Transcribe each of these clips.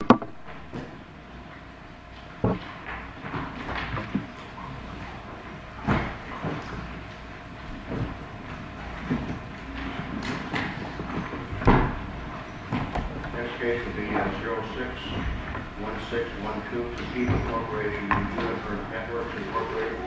This case will be on 06-1612, Toshiba Incorporated v. Juniper Networks Incorporated. This case will be on 06-1612, Toshiba Incorporated v. Juniper Networks Incorporated.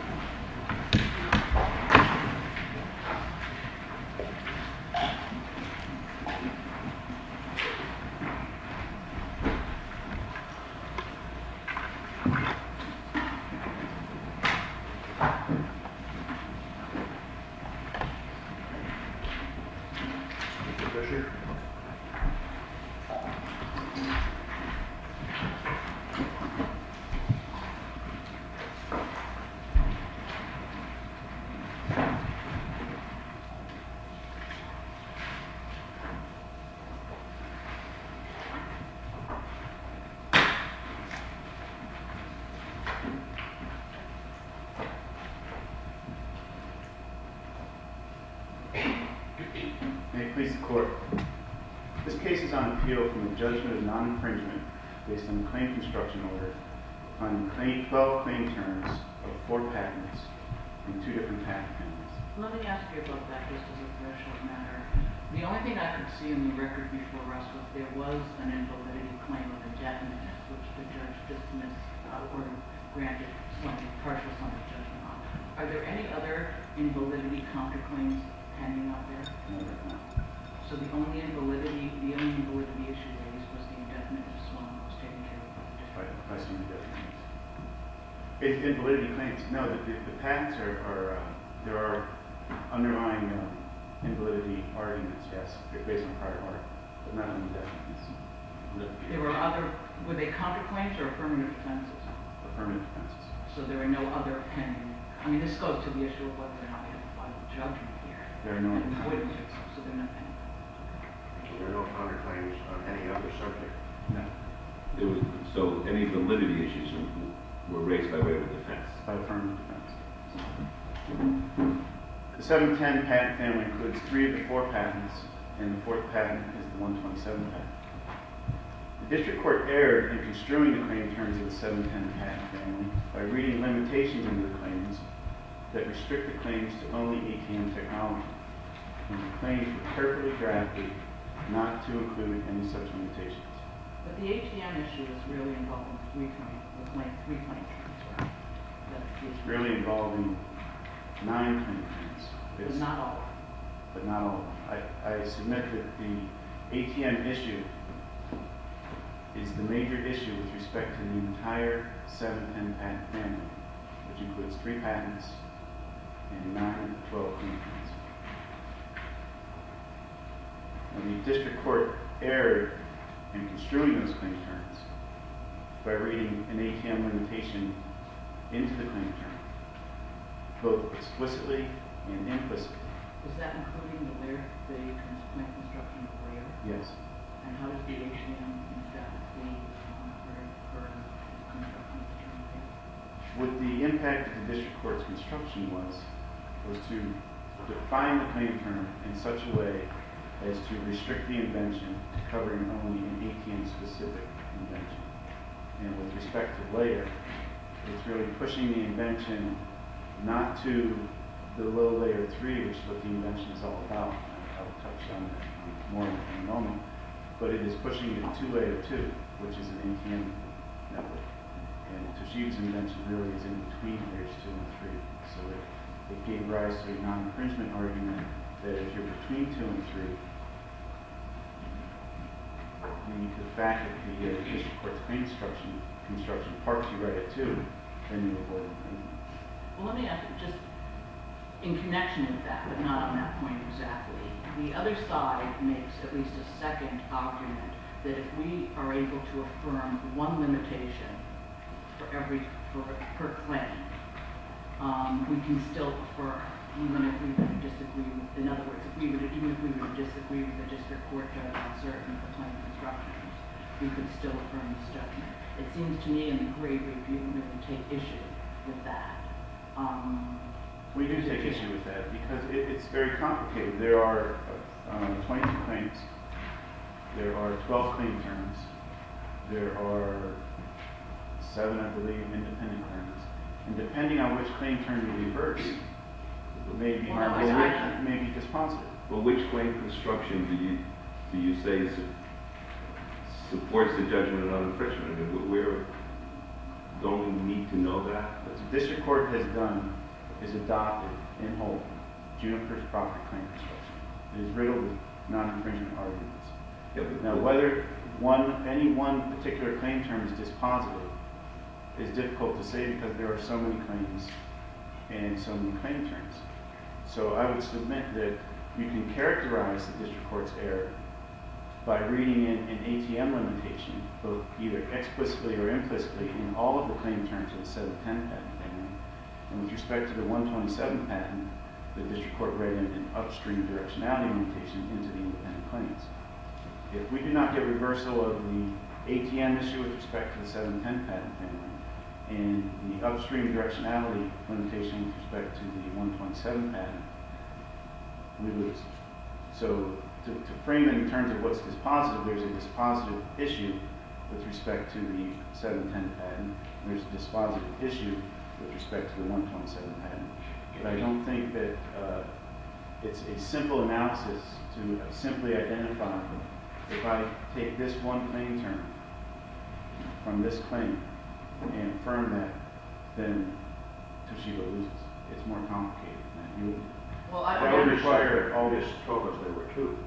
May it please the Court, this case is on appeal from the judgment of non-infringement based on the claim construction order on 12 claim terms of 4 patents and 2 different patent fields. Let me ask you about that just as a threshold matter. The only thing I could see in the record before rust was there was an invalidity claim of indefinite, which the judge dismissed or granted partial sum of judgment on. Are there any other invalidity counterclaims hanging out there? No, there are not. So the only invalidity, the only invalidity issue raised was the indefinite as well. Invalidity claims, no, the patents are, there are underlying invalidity arguments, yes, based on prior work, but not on indefinite. There were other, were they counterclaims or affirmative claims as well? Affirmative claims. So there are no other pending, I mean this goes to the issue of whether or not we have a final judgment here. There are no other claims on any other subject. So any validity issues were raised by way of a defense? By affirmative defense. The 710 patent family includes 3 of the 4 patents and the 4th patent is the 127 patent. The district court erred in construing the claim in terms of the 710 patent family by reading limitations in the claims that restrict the claims to only ATM technology. The claims were carefully drafted not to include any such limitations. But the ATM issue is really involving 3 claims. It's really involving 9 claims. But not all of them. But not all of them. I submit that the ATM issue is the major issue with respect to the entire 710 patent family, which includes 3 patents and 9, 12 claims. And the district court erred in construing those claims by reading an ATM limitation into the claims, both explicitly and implicitly. Is that including the layer? The main construction of the layer? Yes. And how does the ATM instead of the claims come under the burden of the construction of the 710? What the impact of the district court's construction was, was to define the claim term in such a way as to restrict the invention to covering only an ATM specific invention. And with respect to layer, it's really pushing the invention not to the low layer 3, which is what the invention is all about. I'll touch on that more in a moment. But it is pushing it to layer 2, which is an ATM network. And Tashiev's invention really is in between layers 2 and 3. So it gave rise to a non-incringement argument that if you're between 2 and 3, the fact that the district court's construction parks you right at 2, then you avoid infringement. Well, let me ask you just in connection with that, but not on that point exactly. The other side makes at least a second argument that if we are able to affirm one limitation per claim, we can still affirm. In other words, if we were to disagree with the district court judgment on certain of the claim constructions, we could still affirm this judgment. It seems to me in the great review that we take issue with that. We do take issue with that because it's very complicated. There are 22 claims. There are 12 claim terms. There are 7, I believe, independent claims. And depending on which claim term you reverse, it may be harmful or it may be dispositive. Well, which claim construction do you say supports the judgment on infringement? We don't need to know that. What the district court has done is adopted, in whole, June 1st property claim construction. It is riddled with non-infringement arguments. Now, whether any one particular claim term is dispositive is difficult to say because there are so many claims and so many claim terms. So I would submit that you can characterize the district court's error by reading in an ATM limitation, both either explicitly or implicitly, in all of the claim terms of the 710 patent family. And with respect to the 127 patent, the district court read in an upstream directionality limitation into the independent claims. If we do not get reversal of the ATM issue with respect to the 710 patent family and the upstream directionality limitation with respect to the 127 patent, we lose. So to frame it in terms of what's dispositive, there's a dispositive issue with respect to the 710 patent. There's a dispositive issue with respect to the 127 patent. But I don't think that it's a simple analysis to simply identify if I take this one claim term from this claim and affirm that, then Toshiba loses. It's more complicated than you would think. I don't require all this focus. There were two.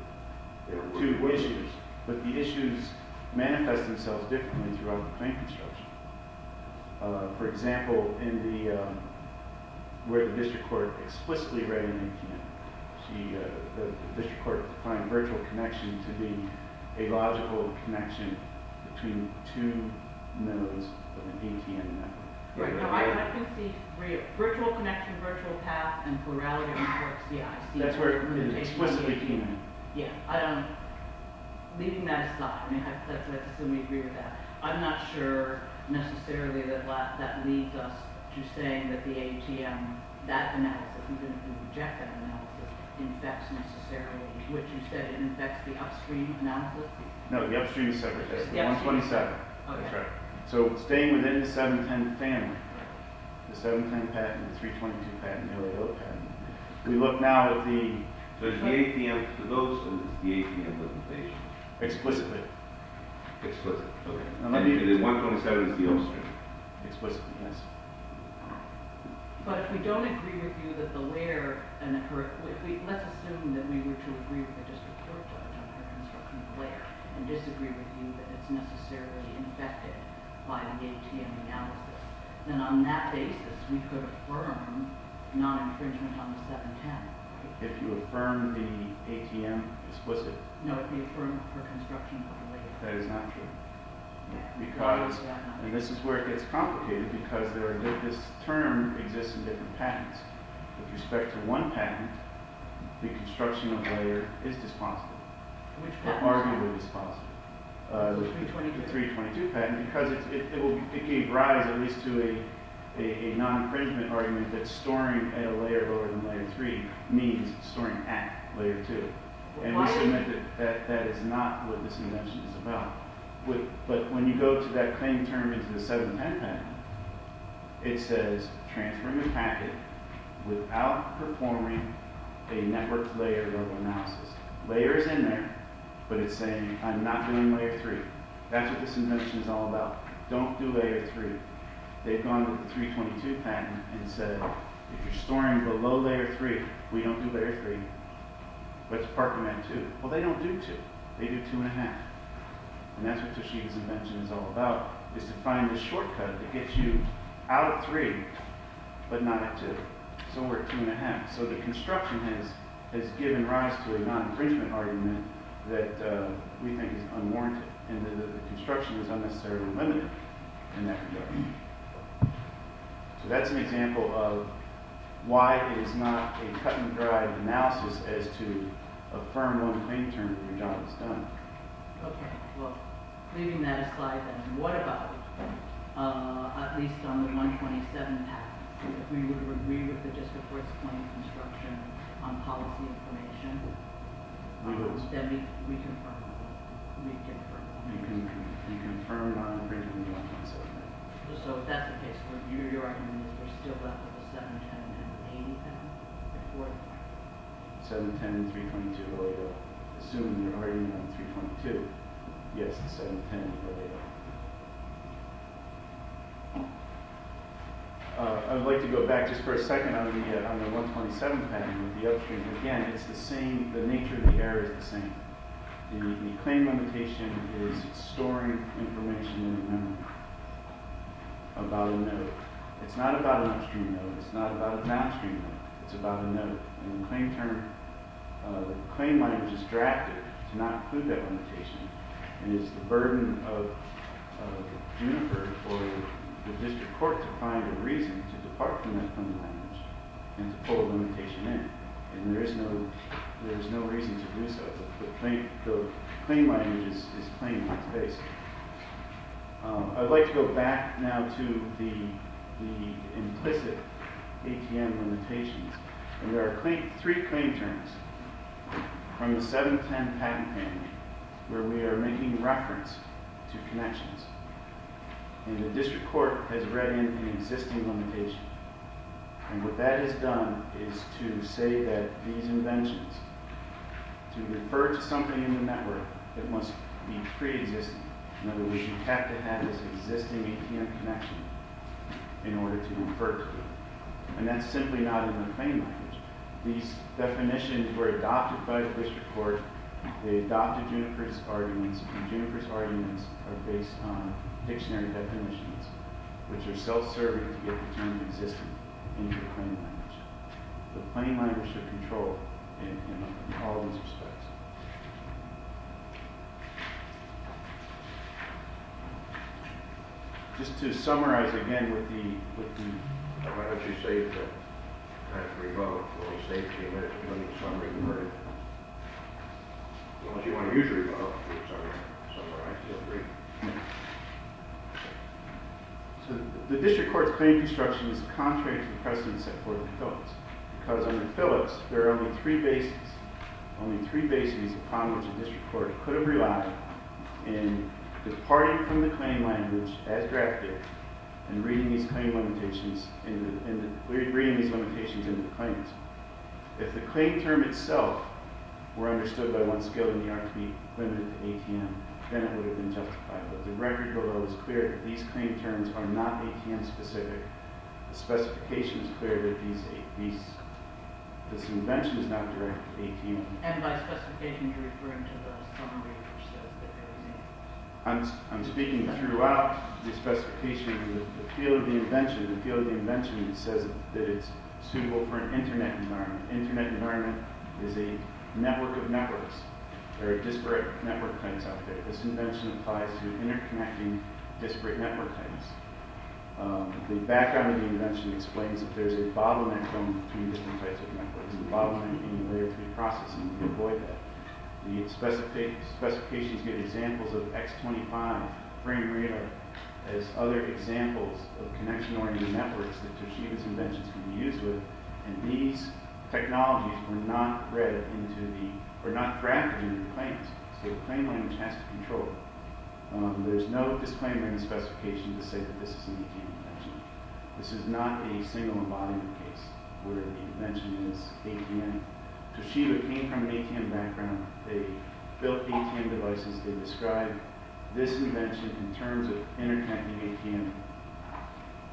There were two issues. But the issues manifest themselves differently throughout the claim construction. For example, where the district court explicitly read in an ATM, the district court defined virtual connection to be a logical connection between two nodes of an ATM network. Right. I can see virtual connection, virtual path, and plurality of networks. Yeah. That's where it explicitly came in. Yeah. Leaving that aside, let's assume we agree with that. I'm not sure necessarily that that leads us to saying that the ATM, that analysis, even if we reject that analysis, infects necessarily what you said, it infects the upstream analysis? No, the upstream is separate. The 127. Okay. That's right. So staying within the 710 family, the 710 patent, the 322 patent, the LAO patent, we look now at the— So the ATM, for those, is the ATM with the patient? Explicitly. Explicitly. Okay. The 127 is the upstream. Explicitly, yes. But if we don't agree with you that the layer—let's assume that we were to agree with the district court judge on the construction of the layer and disagree with you that it's necessarily infected by the ATM analysis, then on that basis, we could affirm non-infringement on the 710. If you affirm the ATM explicitly? No, you affirm for construction of the layer. That is not true. Because—and this is where it gets complicated because this term exists in different patents. With respect to one patent, the construction of the layer is dispositive. Which patent is dispositive? Arguably dispositive. The 322 patent. The 322 patent because it gave rise at least to a non-infringement argument that storing at a layer lower than layer 3 means storing at layer 2. And we submit that that is not what this invention is about. But when you go to that claim term into the 710 patent, it says transferring a packet without performing a network layer level analysis. Layer is in there, but it's saying I'm not doing layer 3. That's what this invention is all about. Don't do layer 3. They've gone with the 322 patent and said if you're storing below layer 3, we don't do layer 3. What's parking at 2? Well, they don't do 2. They do 2 1⁄2. And that's what Toshiba's invention is all about, is to find the shortcut that gets you out of 3 but not at 2. So we're at 2 1⁄2. So the construction has given rise to a non-infringement argument that we think is unwarranted and that the construction is unnecessarily limited in that regard. So that's an example of why it is not a cut-and-dry analysis as to a firm loan claim term that your job is done. Okay. Well, leaving that aside, then, what about at least on the 127 patent? If we would agree with the district court's claim construction on policy information, then we can confirm it. We can confirm it. So if that's the case, what you're arguing is there's still left with the 710 and the 322? 710 and 322 are available. Assuming you're already on 322. Yes, the 710 is available. I'd like to go back just for a second on the 127 patent with the upstream. Again, it's the same. The nature of the error is the same. The claim limitation is storing information in a memo about a note. It's not about an upstream note. It's not about a downstream note. It's about a note. And the claim term, the claim language is drafted to not include that limitation. And it's the burden of Juniper for the district court to find a reason to depart from that claim language and to pull a limitation in. And there is no reason to do so. The claim language is plain and basic. I'd like to go back now to the implicit ATM limitations. And there are three claim terms from the 710 patent family where we are making reference to connections. And the district court has read in an existing limitation. And what that has done is to say that these inventions to refer to something in the network that must be pre-existing. In other words, you have to have this existing ATM connection in order to refer to it. And that's simply not in the claim language. These definitions were adopted by the district court. They adopted Juniper's arguments. And Juniper's arguments are based on dictionary definitions, which are self-serving to get the term to exist in the claim language. The claim language should control in all those respects. Just to summarize again with the... Why don't you say that that's revoked? Will you say that the American Claims Summary is inverted? As long as you want to use revoke, it's all right. The district court's claim construction is contrary to the precedent set forth in Phillips. Because under Phillips, there are only three bases, only three bases upon which a district court could have relied in departing from the claim language as drafted and reading these limitations into the claims. If the claim term itself were understood by one skilled in the art to be limited to ATM, then it would have been justified. But the record below is clear that these claim terms are not ATM-specific. The specification is clear that this invention is not directly ATM. And by specification, you're referring to the summary which says that there is an ATM. I'm speaking throughout the specification. The field of the invention says that it's suitable for an Internet environment. Internet environment is a network of networks. There are disparate network claims out there. This invention applies to interconnecting disparate network claims. The background of the invention explains that there's a bottleneck zone between different types of networks. There's a bottleneck in the Layer 3 processing. We avoid that. The specifications give examples of X25 frame radar as other examples of connection-oriented networks that Toshiba's inventions can be used with. And these technologies were not drafted into the claims. So the claim language has to control it. There's no disclaimer in the specification to say that this is an ATM invention. This is not a single embodiment case where the invention is ATM. Toshiba came from an ATM background. They built ATM devices. They described this invention in terms of interconnecting ATM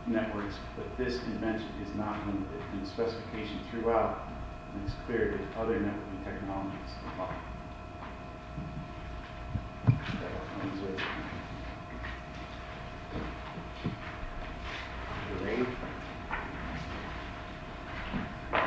networks. But this invention is not in the specification throughout. And it's clear that other networking technologies apply. Are we ready? I wanted to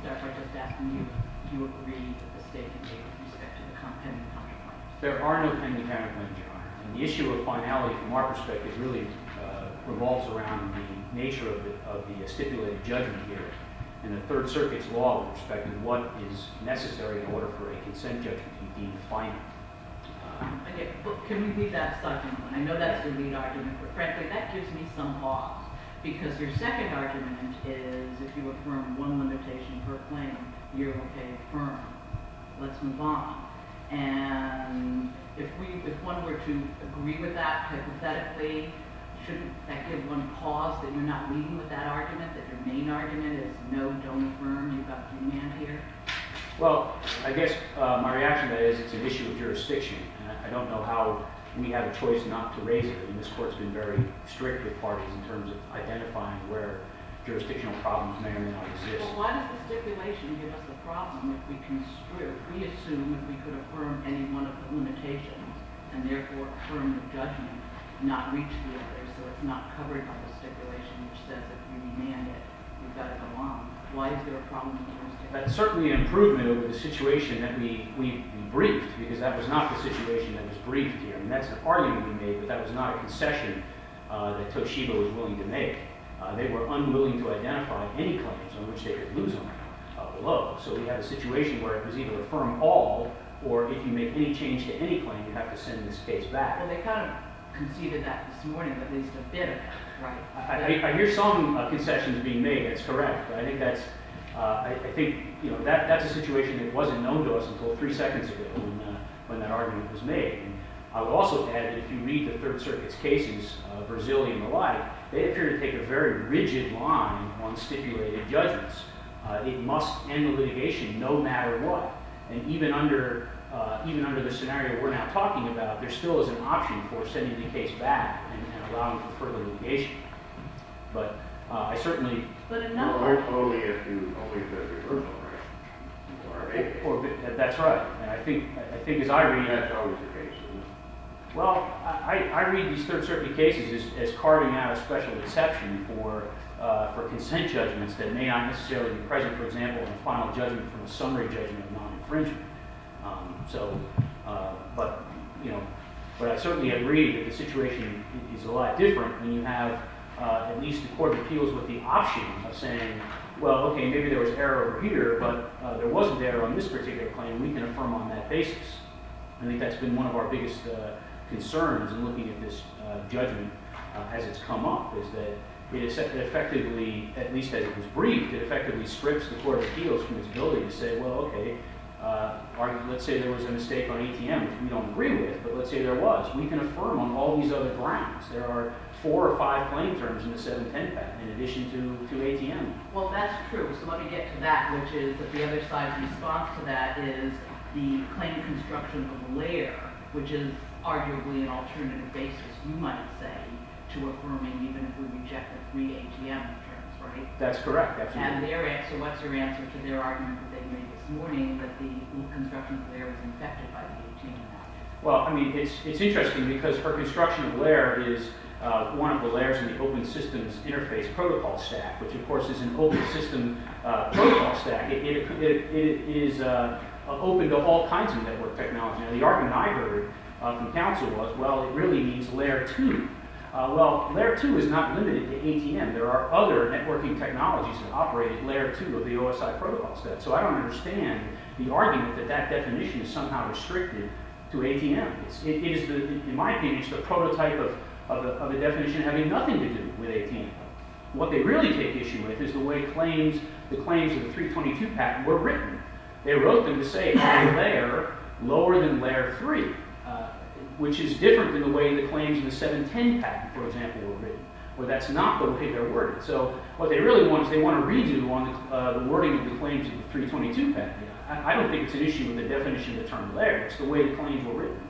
start by just asking you, do you agree with the statement made with respect to the competent counterparts? There are no competent counterparts. And the issue of finality from our perspective really revolves around the nature of the stipulated judgment here. And the Third Circuit's law with respect to what is necessary in order for a consent judgment to be defined. Can we leave that subject? I know that's the lead argument. But frankly, that gives me some pause. Because your second argument is if you affirm one limitation per claim, you're OK to affirm. Let's move on. And if one were to agree with that, hypothetically, shouldn't that give one pause that you're not leaving with that argument? That your main argument is no, don't affirm. You've got the demand here. Well, I guess my reaction to that is it's an issue of jurisdiction. And I don't know how we have a choice not to raise it. And this court's been very strict with parties in terms of identifying where jurisdictional problems may or may not exist. But why does the stipulation give us a problem if we assume that we could affirm any one of the limitations, and therefore affirm the judgment, not reach the other? So it's not covered by the stipulation, which says if you demand it, you've got to go on. Why is there a problem with the jurisdiction? That's certainly an improvement over the situation that we briefed, because that was not the situation that was briefed here. I mean, that's an argument we made, but that was not a concession that Toshiba was willing to make. They were unwilling to identify any claims on which they could lose them below. So we have a situation where it was either affirm all, or if you make any change to any claim, you have to send this case back. Well, they kind of conceded that this morning, at least a bit of that, right? I hear some concessions being made. That's correct. But I think that's a situation that wasn't known to us until three seconds ago when that argument was made. I would also add that if you read the Third Circuit's cases, Brazilian malign, they appear to take a very rigid line on stipulated judgments. It must end the litigation no matter what. And even under the scenario we're now talking about, there still is an option for sending the case back and allowing for further litigation. But I certainly— But another— That's right. I think as I read— Well, I read these Third Circuit cases as carving out a special exception for consent judgments that may not necessarily be present, for example, a final judgment from a summary judgment of non-infringement. But I certainly agree that the situation is a lot different when you have at least the Court of Appeals with the option of saying, well, OK, maybe there was error here, but there wasn't error on this particular claim. We can affirm on that basis. I think that's been one of our biggest concerns in looking at this judgment as it's come up, is that it effectively, at least as it was briefed, it effectively strips the Court of Appeals from its ability to say, well, OK, let's say there was a mistake on ATM, which we don't agree with, but let's say there was. We can affirm on all these other grounds. There are four or five claim terms in the 710 Act in addition to ATM. Well, that's true. So let me get to that, which is that the other side's response to that is the claim construction of a layer, which is arguably an alternative basis, you might say, to affirming even if we reject the three ATM terms, right? That's correct. So what's your answer to their argument that they made this morning that the construction of a layer was infected by the ATM Act? Well, I mean, it's interesting because our construction of a layer is one of the layers in the open systems interface protocol stack, which, of course, is an open system protocol stack. It is open to all kinds of network technology. And the argument I heard from counsel was, well, it really needs Layer 2. Well, Layer 2 is not limited to ATM. There are other networking technologies that operate Layer 2 of the OSI protocol set. So I don't understand the argument that that definition is somehow restricted to ATM. It is, in my opinion, just a prototype of a definition having nothing to do with ATM. What they really take issue with is the way the claims of the 322 Pact were written. They wrote them to say Layer lower than Layer 3, which is different than the way the claims of the 710 Pact, for example, were written. Well, that's not the way they're worded. So what they really want is they want to redo the wording of the claims of the 322 Pact. I don't think it's an issue in the definition of the term layer. It's the way the claims were written.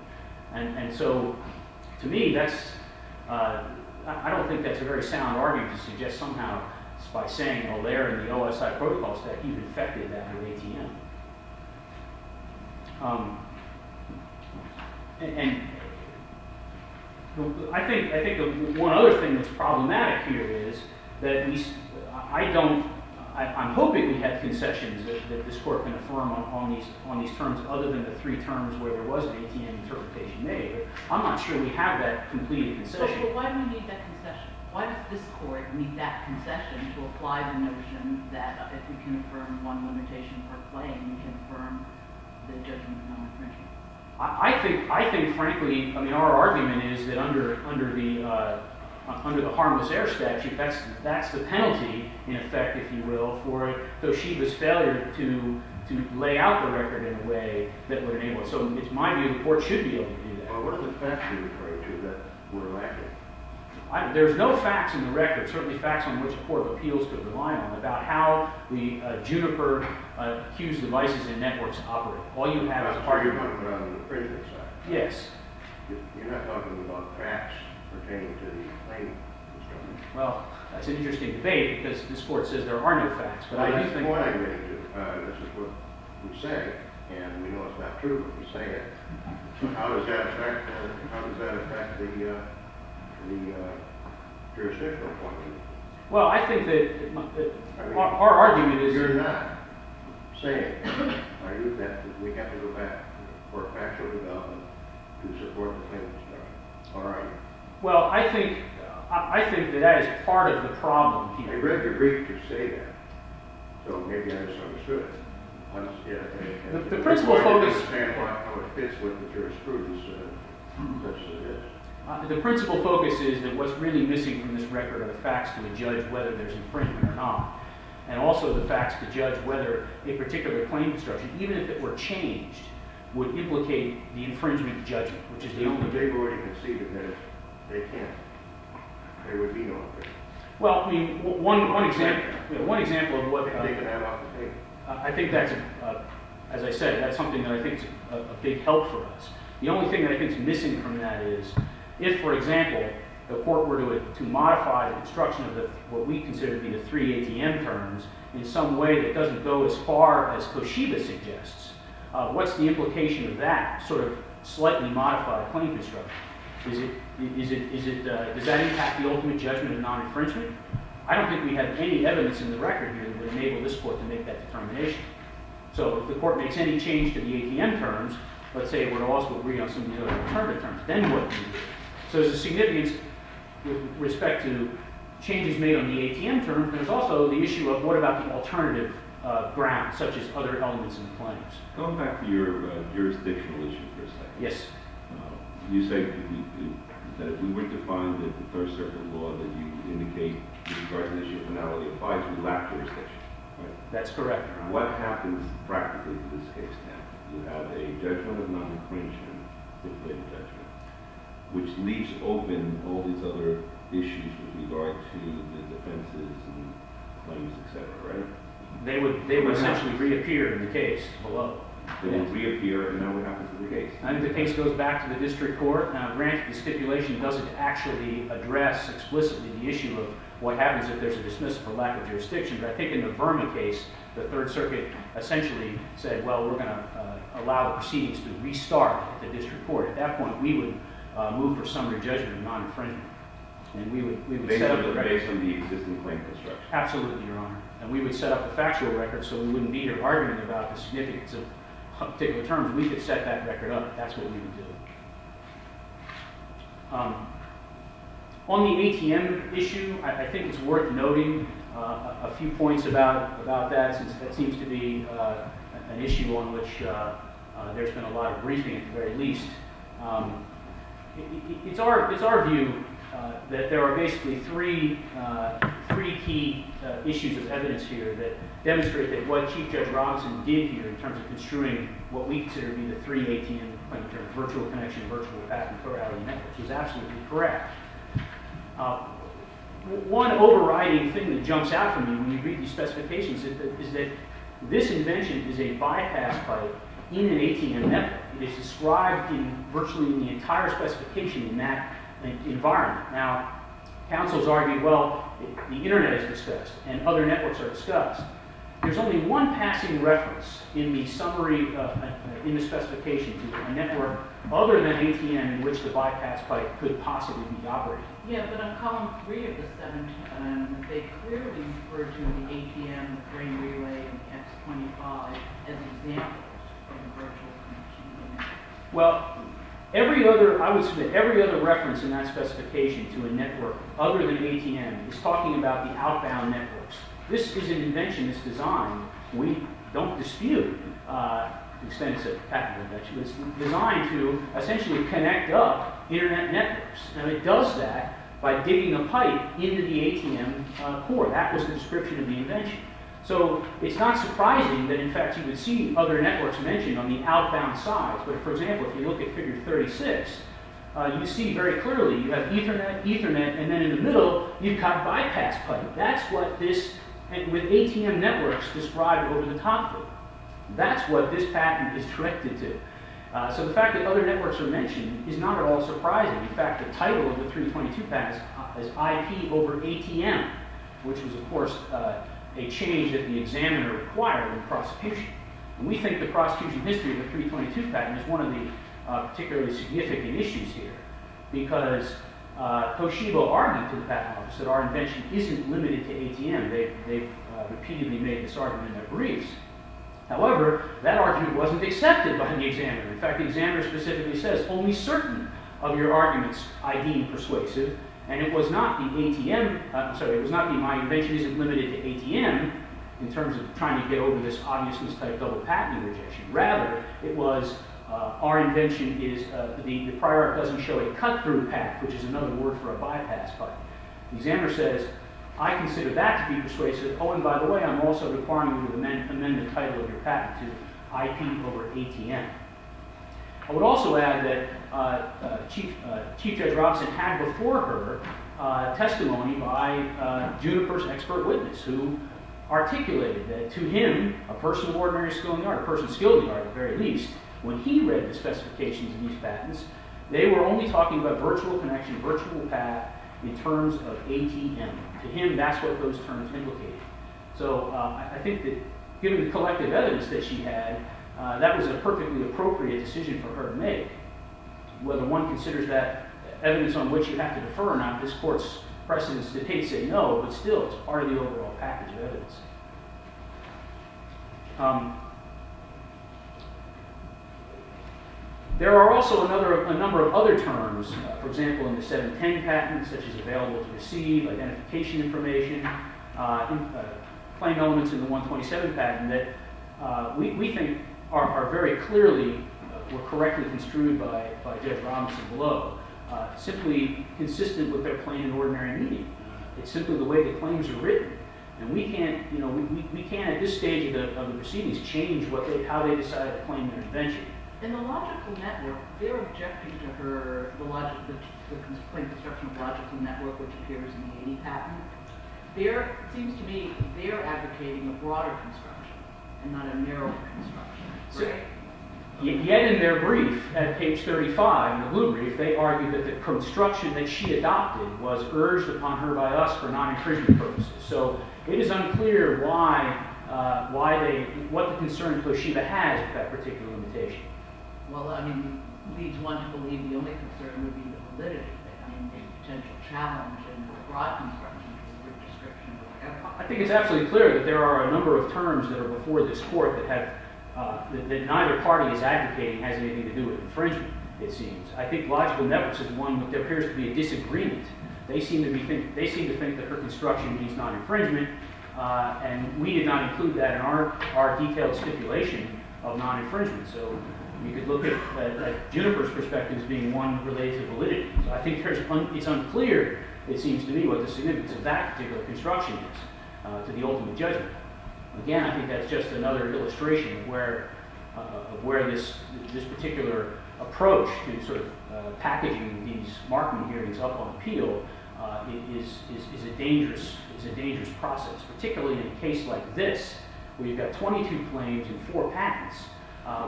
And so to me, I don't think that's a very sound argument to suggest somehow by saying a layer in the OSI protocol set even affected that of ATM. And I think one other thing that's problematic here is that at least I don't – I'm hoping we have concessions that this court can affirm on these terms other than the three terms where there was an ATM interpretation made. But I'm not sure we have that complete concession. So why do we need that concession? Why does this court need that concession to apply the notion that if we can affirm one limitation per claim, we can affirm the judgment on the infringement? I think frankly – I mean our argument is that under the harmless heir statute, that's the penalty in effect, if you will, for it. So she was failure to lay out the record in a way that would enable it. So it's my view the court should be able to do that. Well, what are the facts you're referring to that we're lacking? There's no facts in the record, certainly facts on which the court appeals to rely on, about how the Juniper accused devices and networks operate. That's part of your point on the infringement side. Yes. You're not talking about facts pertaining to the claim. Well, that's an interesting debate because this court says there are no facts. This is what we say, and we know it's not true, but we say it. How does that affect the jurisdictional point of view? Well, I think that our argument is – You're not saying, are you, that we have to go back to the court of factual development to support the claimant's judgment. Or are you? Well, I think that that is part of the problem. I read the brief to say that. So maybe I just understood it. Yeah. The principal focus – I don't know how it fits with the jurisprudence. The principal focus is that what's really missing from this record are the facts to judge whether there's infringement or not, and also the facts to judge whether a particular claim instruction, even if it were changed, would implicate the infringement judgment, which is the only – But they've already conceived of this. They can't. There would be no infringement. Well, I mean, one example. One example of what – I think that's, as I said, that's something that I think is a big help for us. The only thing that I think is missing from that is if, for example, the court were to modify the construction of what we consider to be the three ATM terms in some way that doesn't go as far as Koshiba suggests, what's the implication of that sort of slightly modified claim construction? Is it – does that impact the ultimate judgment of non-infringement? I don't think we have any evidence in the record here that would enable this court to make that determination. So if the court makes any change to the ATM terms, let's say it would also agree on some of the other alternative terms, then what? So there's a significance with respect to changes made on the ATM terms. There's also the issue of what about the alternative grounds, such as other elements in the claims? Go back to your jurisdictional issue for a second. Yes. You say that if we were to find that the Third Circuit law that you indicate in regards to the issue of finality applies to the lack of jurisdiction, right? That's correct, Your Honor. What happens practically to this case now? You have a judgment of non-infringement, which leaves open all these other issues with regard to the defenses and claims, et cetera, right? They would essentially reappear in the case below. They would reappear, and now what happens to the case? I think the case goes back to the district court. Now, granted, the stipulation doesn't actually address explicitly the issue of what happens if there's a dismissal for lack of jurisdiction, but I think in the Verma case, the Third Circuit essentially said, well, we're going to allow proceedings to restart the district court. At that point, we would move for summary judgment of non-infringement, and we would set up the record. Based on the existing claim construction? Absolutely, Your Honor. And we would set up a factual record so we wouldn't need an argument about the significance of particular terms. We could set that record up. That's what we would do. On the ATM issue, I think it's worth noting a few points about that since that seems to be an issue on which there's been a lot of briefing at the very least. It's our view that there are basically three key issues of evidence here that demonstrate that what Chief Judge Robinson did here in terms of construing what we consider to be the three ATM terms, virtual connection, virtual path, and third-party network, is absolutely correct. One overriding thing that jumps out to me when you read these specifications is that this invention is a bypass pipe in an ATM network. It is described in virtually the entire specification in that environment. Now, counsels argue, well, the Internet is discussed and other networks are discussed. There's only one passing reference in the summary in the specification to the network other than ATM in which the bypass pipe could possibly be operated. Yeah, but on column three of the 710, they clearly refer to the ATM, the Green Relay, and the X25 as examples of virtual connection. Well, every other reference in that specification to a network other than ATM is talking about the outbound networks. This is an invention that's designed, we don't dispute expensive patent inventions, but it's designed to essentially connect up Internet networks. And it does that by digging a pipe into the ATM core. That was the description of the invention. So it's not surprising that, in fact, you would see other networks mentioned on the outbound sides. But, for example, if you look at figure 36, you see very clearly you have Ethernet, Ethernet, and then in the middle you've got bypass pipe. That's what this, with ATM networks described over the top of it, that's what this patent is directed to. So the fact that other networks are mentioned is not at all surprising. In fact, the title of the 322 patent is IP over ATM, which was, of course, a change that the examiner acquired in prosecution. And we think the prosecution history of the 322 patent is one of the particularly significant issues here because Toshiba argued to the patent office that our invention isn't limited to ATM. They've repeatedly made this argument in their briefs. However, that argument wasn't accepted by the examiner. In fact, the examiner specifically says, only certain of your arguments I deem persuasive. And it was not the ATM, sorry, it was not the my invention isn't limited to ATM, in terms of trying to get over this obviousness-type double-patent rejection. Rather, it was our invention is, the prior art doesn't show a cut-through path, which is another word for a bypass pipe. The examiner says, I consider that to be persuasive. Oh, and by the way, I'm also requiring you to amend the title of your patent to IP over ATM. I would also add that Chief Judge Robinson had before her testimony by a junior person, expert witness, who articulated that to him, a person of ordinary skill in the art, a person skilled in the art at the very least, when he read the specifications of these patents, they were only talking about virtual connection, virtual path, in terms of ATM. To him, that's what those terms implicated. So I think that given the collective evidence that she had, that was a perfectly appropriate decision for her to make. Whether one considers that evidence on which you have to defer or not, this court's precedence to say no, but still it's part of the overall package of evidence. There are also a number of other terms, for example, in the 710 patents, such as available to receive, identification information, claim elements in the 127 patent, that we think are very clearly or correctly construed by Judge Robinson below, simply consistent with their claim in ordinary meaning. It's simply the way the claims are written. And we can't, at this stage of the proceedings, change how they decided to claim their invention. In the logical network, they're objecting to her, the plain construction of the logical network, which appears in the 80 patent. There seems to be, they're advocating a broader construction and not a narrow construction. Yet in their brief, at page 35, the blue brief, they argue that the construction that she adopted was urged upon her by us for non-imprisonment purposes. So it is unclear why they, what the concern for Shiva has with that particular limitation. Well, I mean, it leads one to believe the only concern would be the validity of it. I mean, the potential challenge in the broad construction is her description. I think it's absolutely clear that there are a number of terms that are before this court that neither party is advocating has anything to do with infringement, it seems. I think logical networks is one, but there appears to be a disagreement. They seem to think that her construction means non-infringement, and we did not include that in our detailed stipulation of non-infringement. So you could look at Juniper's perspective as being one related to validity. So I think it's unclear, it seems to me, what the significance of that particular construction is to the ultimate judgment. Again, I think that's just another illustration of where this particular approach to sort of packaging these marking hearings up on appeal is a dangerous process, particularly in a case like this, where you've got 22 claims and four patents,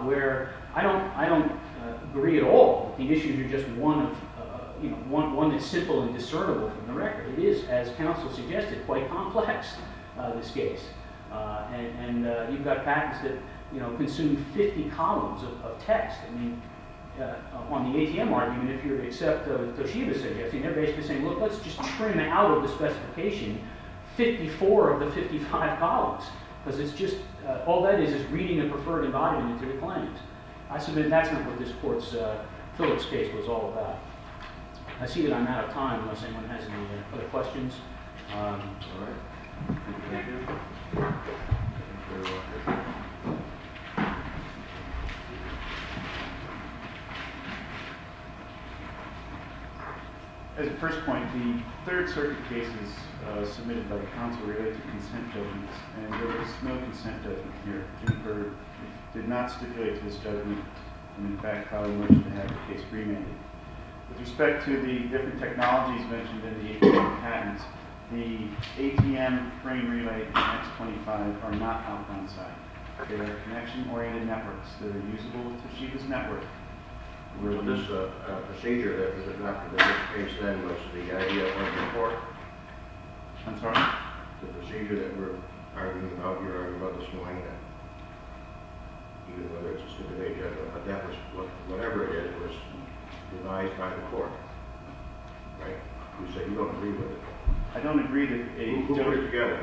where I don't agree at all that the issues are just one that's simple and discernible from the record. It is, as counsel suggested, quite complex, this case. And you've got patents that consume 50 columns of text. I mean, on the ATM argument, if you were to accept what Toshiba's suggesting, they're basically saying, look, let's just trim out of the specification 54 of the 55 columns, because all that is is reading the preferred environment to the claims. I submit that's not what this court's Phillips case was all about. I see that I'm out of time unless anyone has any other questions. All right. Thank you. Thank you very much. As a first point, the third circuit case was submitted by the counsel related to consent judgments, and there was no consent judgment here. It did not stipulate to this judgment, and in fact probably wasn't going to have the case remanded. With respect to the different technologies mentioned in the ATMs and patents, the ATM frame relay and X25 are not on the front side. They're connection-oriented networks that are usable with Toshiba's network. This procedure that was adopted in this case, then, was the idea of the court. I'm sorry? The procedure that we're arguing about here, arguing about this morning, whether it's a suit of age, whatever it is, was devised by the court. Right? You said you don't agree with it. I don't agree that any of the two were together.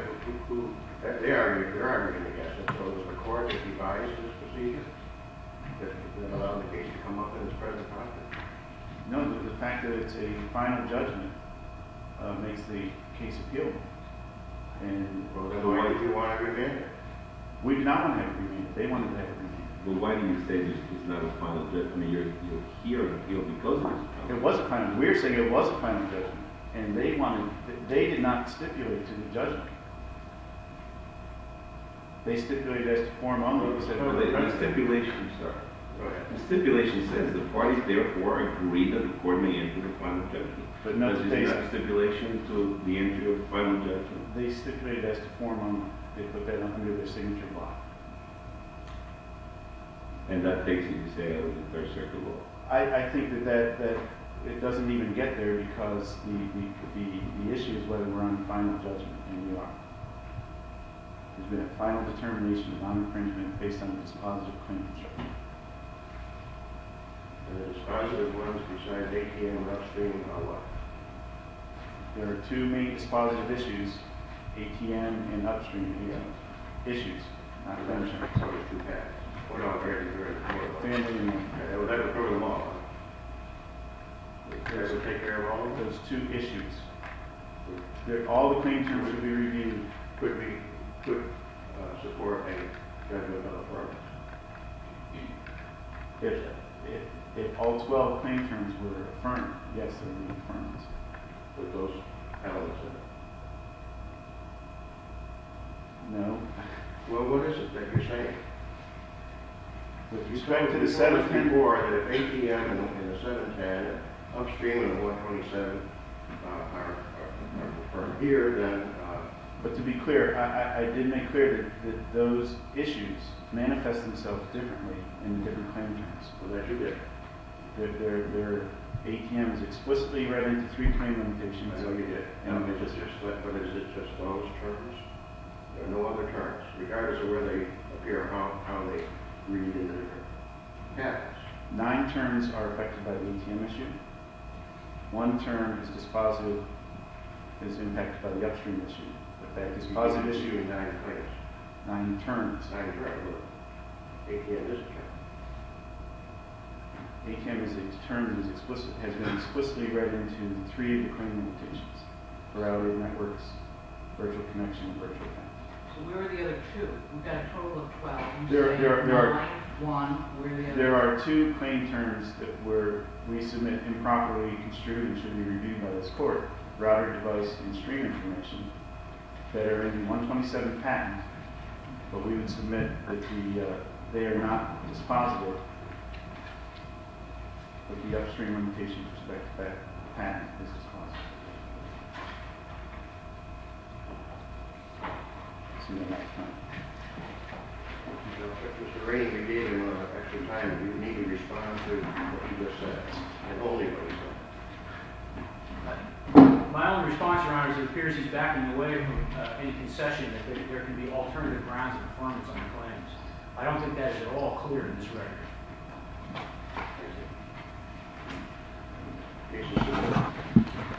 They're arguing against it. So it was the court that devised this procedure? That allowed the case to come up in this present context? No, the fact that it's a final judgment makes the case appealable. So why did you want to remand it? We did not want to have it remanded. They wanted to have it remanded. Well, why do you say this is not a final judgment? I mean, you're here because of this. It was a final judgment. We're saying it was a final judgment, and they did not stipulate to the judgment. They stipulated it as to form only. No, the stipulation, sir. The stipulation says the parties therefore agreed that the court may enter the final judgment. But this is not a stipulation to the entry of the final judgment. They stipulated it as to form only. They put that under their signature block. And that takes you to say that it was a third circuit law? I think that it doesn't even get there because the issue is whether we're on final judgment. And we are. It's been a final determination of non-infringement based on dispositive claims. And the dispositive ones beside ATM and upstream are what? There are two main dispositive issues, ATM and upstream. They have issues, not claims. So there's two paths. It's a third circuit law. It's a third circuit law. It has to take care of all of those two issues. If all the claims terms would be reviewed, could we support a federal federal program? If all 12 claims terms were affirmed, yes, they would be affirmed. No. Well, what is it that you're saying? What you're saying to the seventh people are that if ATM and the seventh had upstream and 127 are here, then... But to be clear, I did make clear that those issues manifest themselves differently in different claim types. Well, that you did. Their ATM is explicitly read into three claim limitations. I know you did. But is it just those terms? There are no other terms. Regardless of where they appear, how they read into it. Yeah. Nine terms are affected by the ATM issue. One term is dispositive. It's impacted by the upstream issue. But that dispositive issue is not in place. Nine terms. Not in place. ATM is a term. ATM is a term that has been explicitly read into three of the claim limitations. Routed networks, virtual connection, and virtual payment. So where are the other two? We've got a total of 12. You say nine, one, where are the other two? There are two claim terms that we submit improperly, construed, and should be reviewed by this court. Routed device and stream information that are in the 127 patent. But we would submit that they are not dispositive of the upstream limitations with respect to that patent. It's dispositive. Mr. Rainey, we gave you extra time. If you need to respond to what you just said. I totally understand. My only response, Your Honor, is it appears he's backing away from any concession. That there can be alternative grounds of affirmance on the claims. I don't think that's at all clear in this record.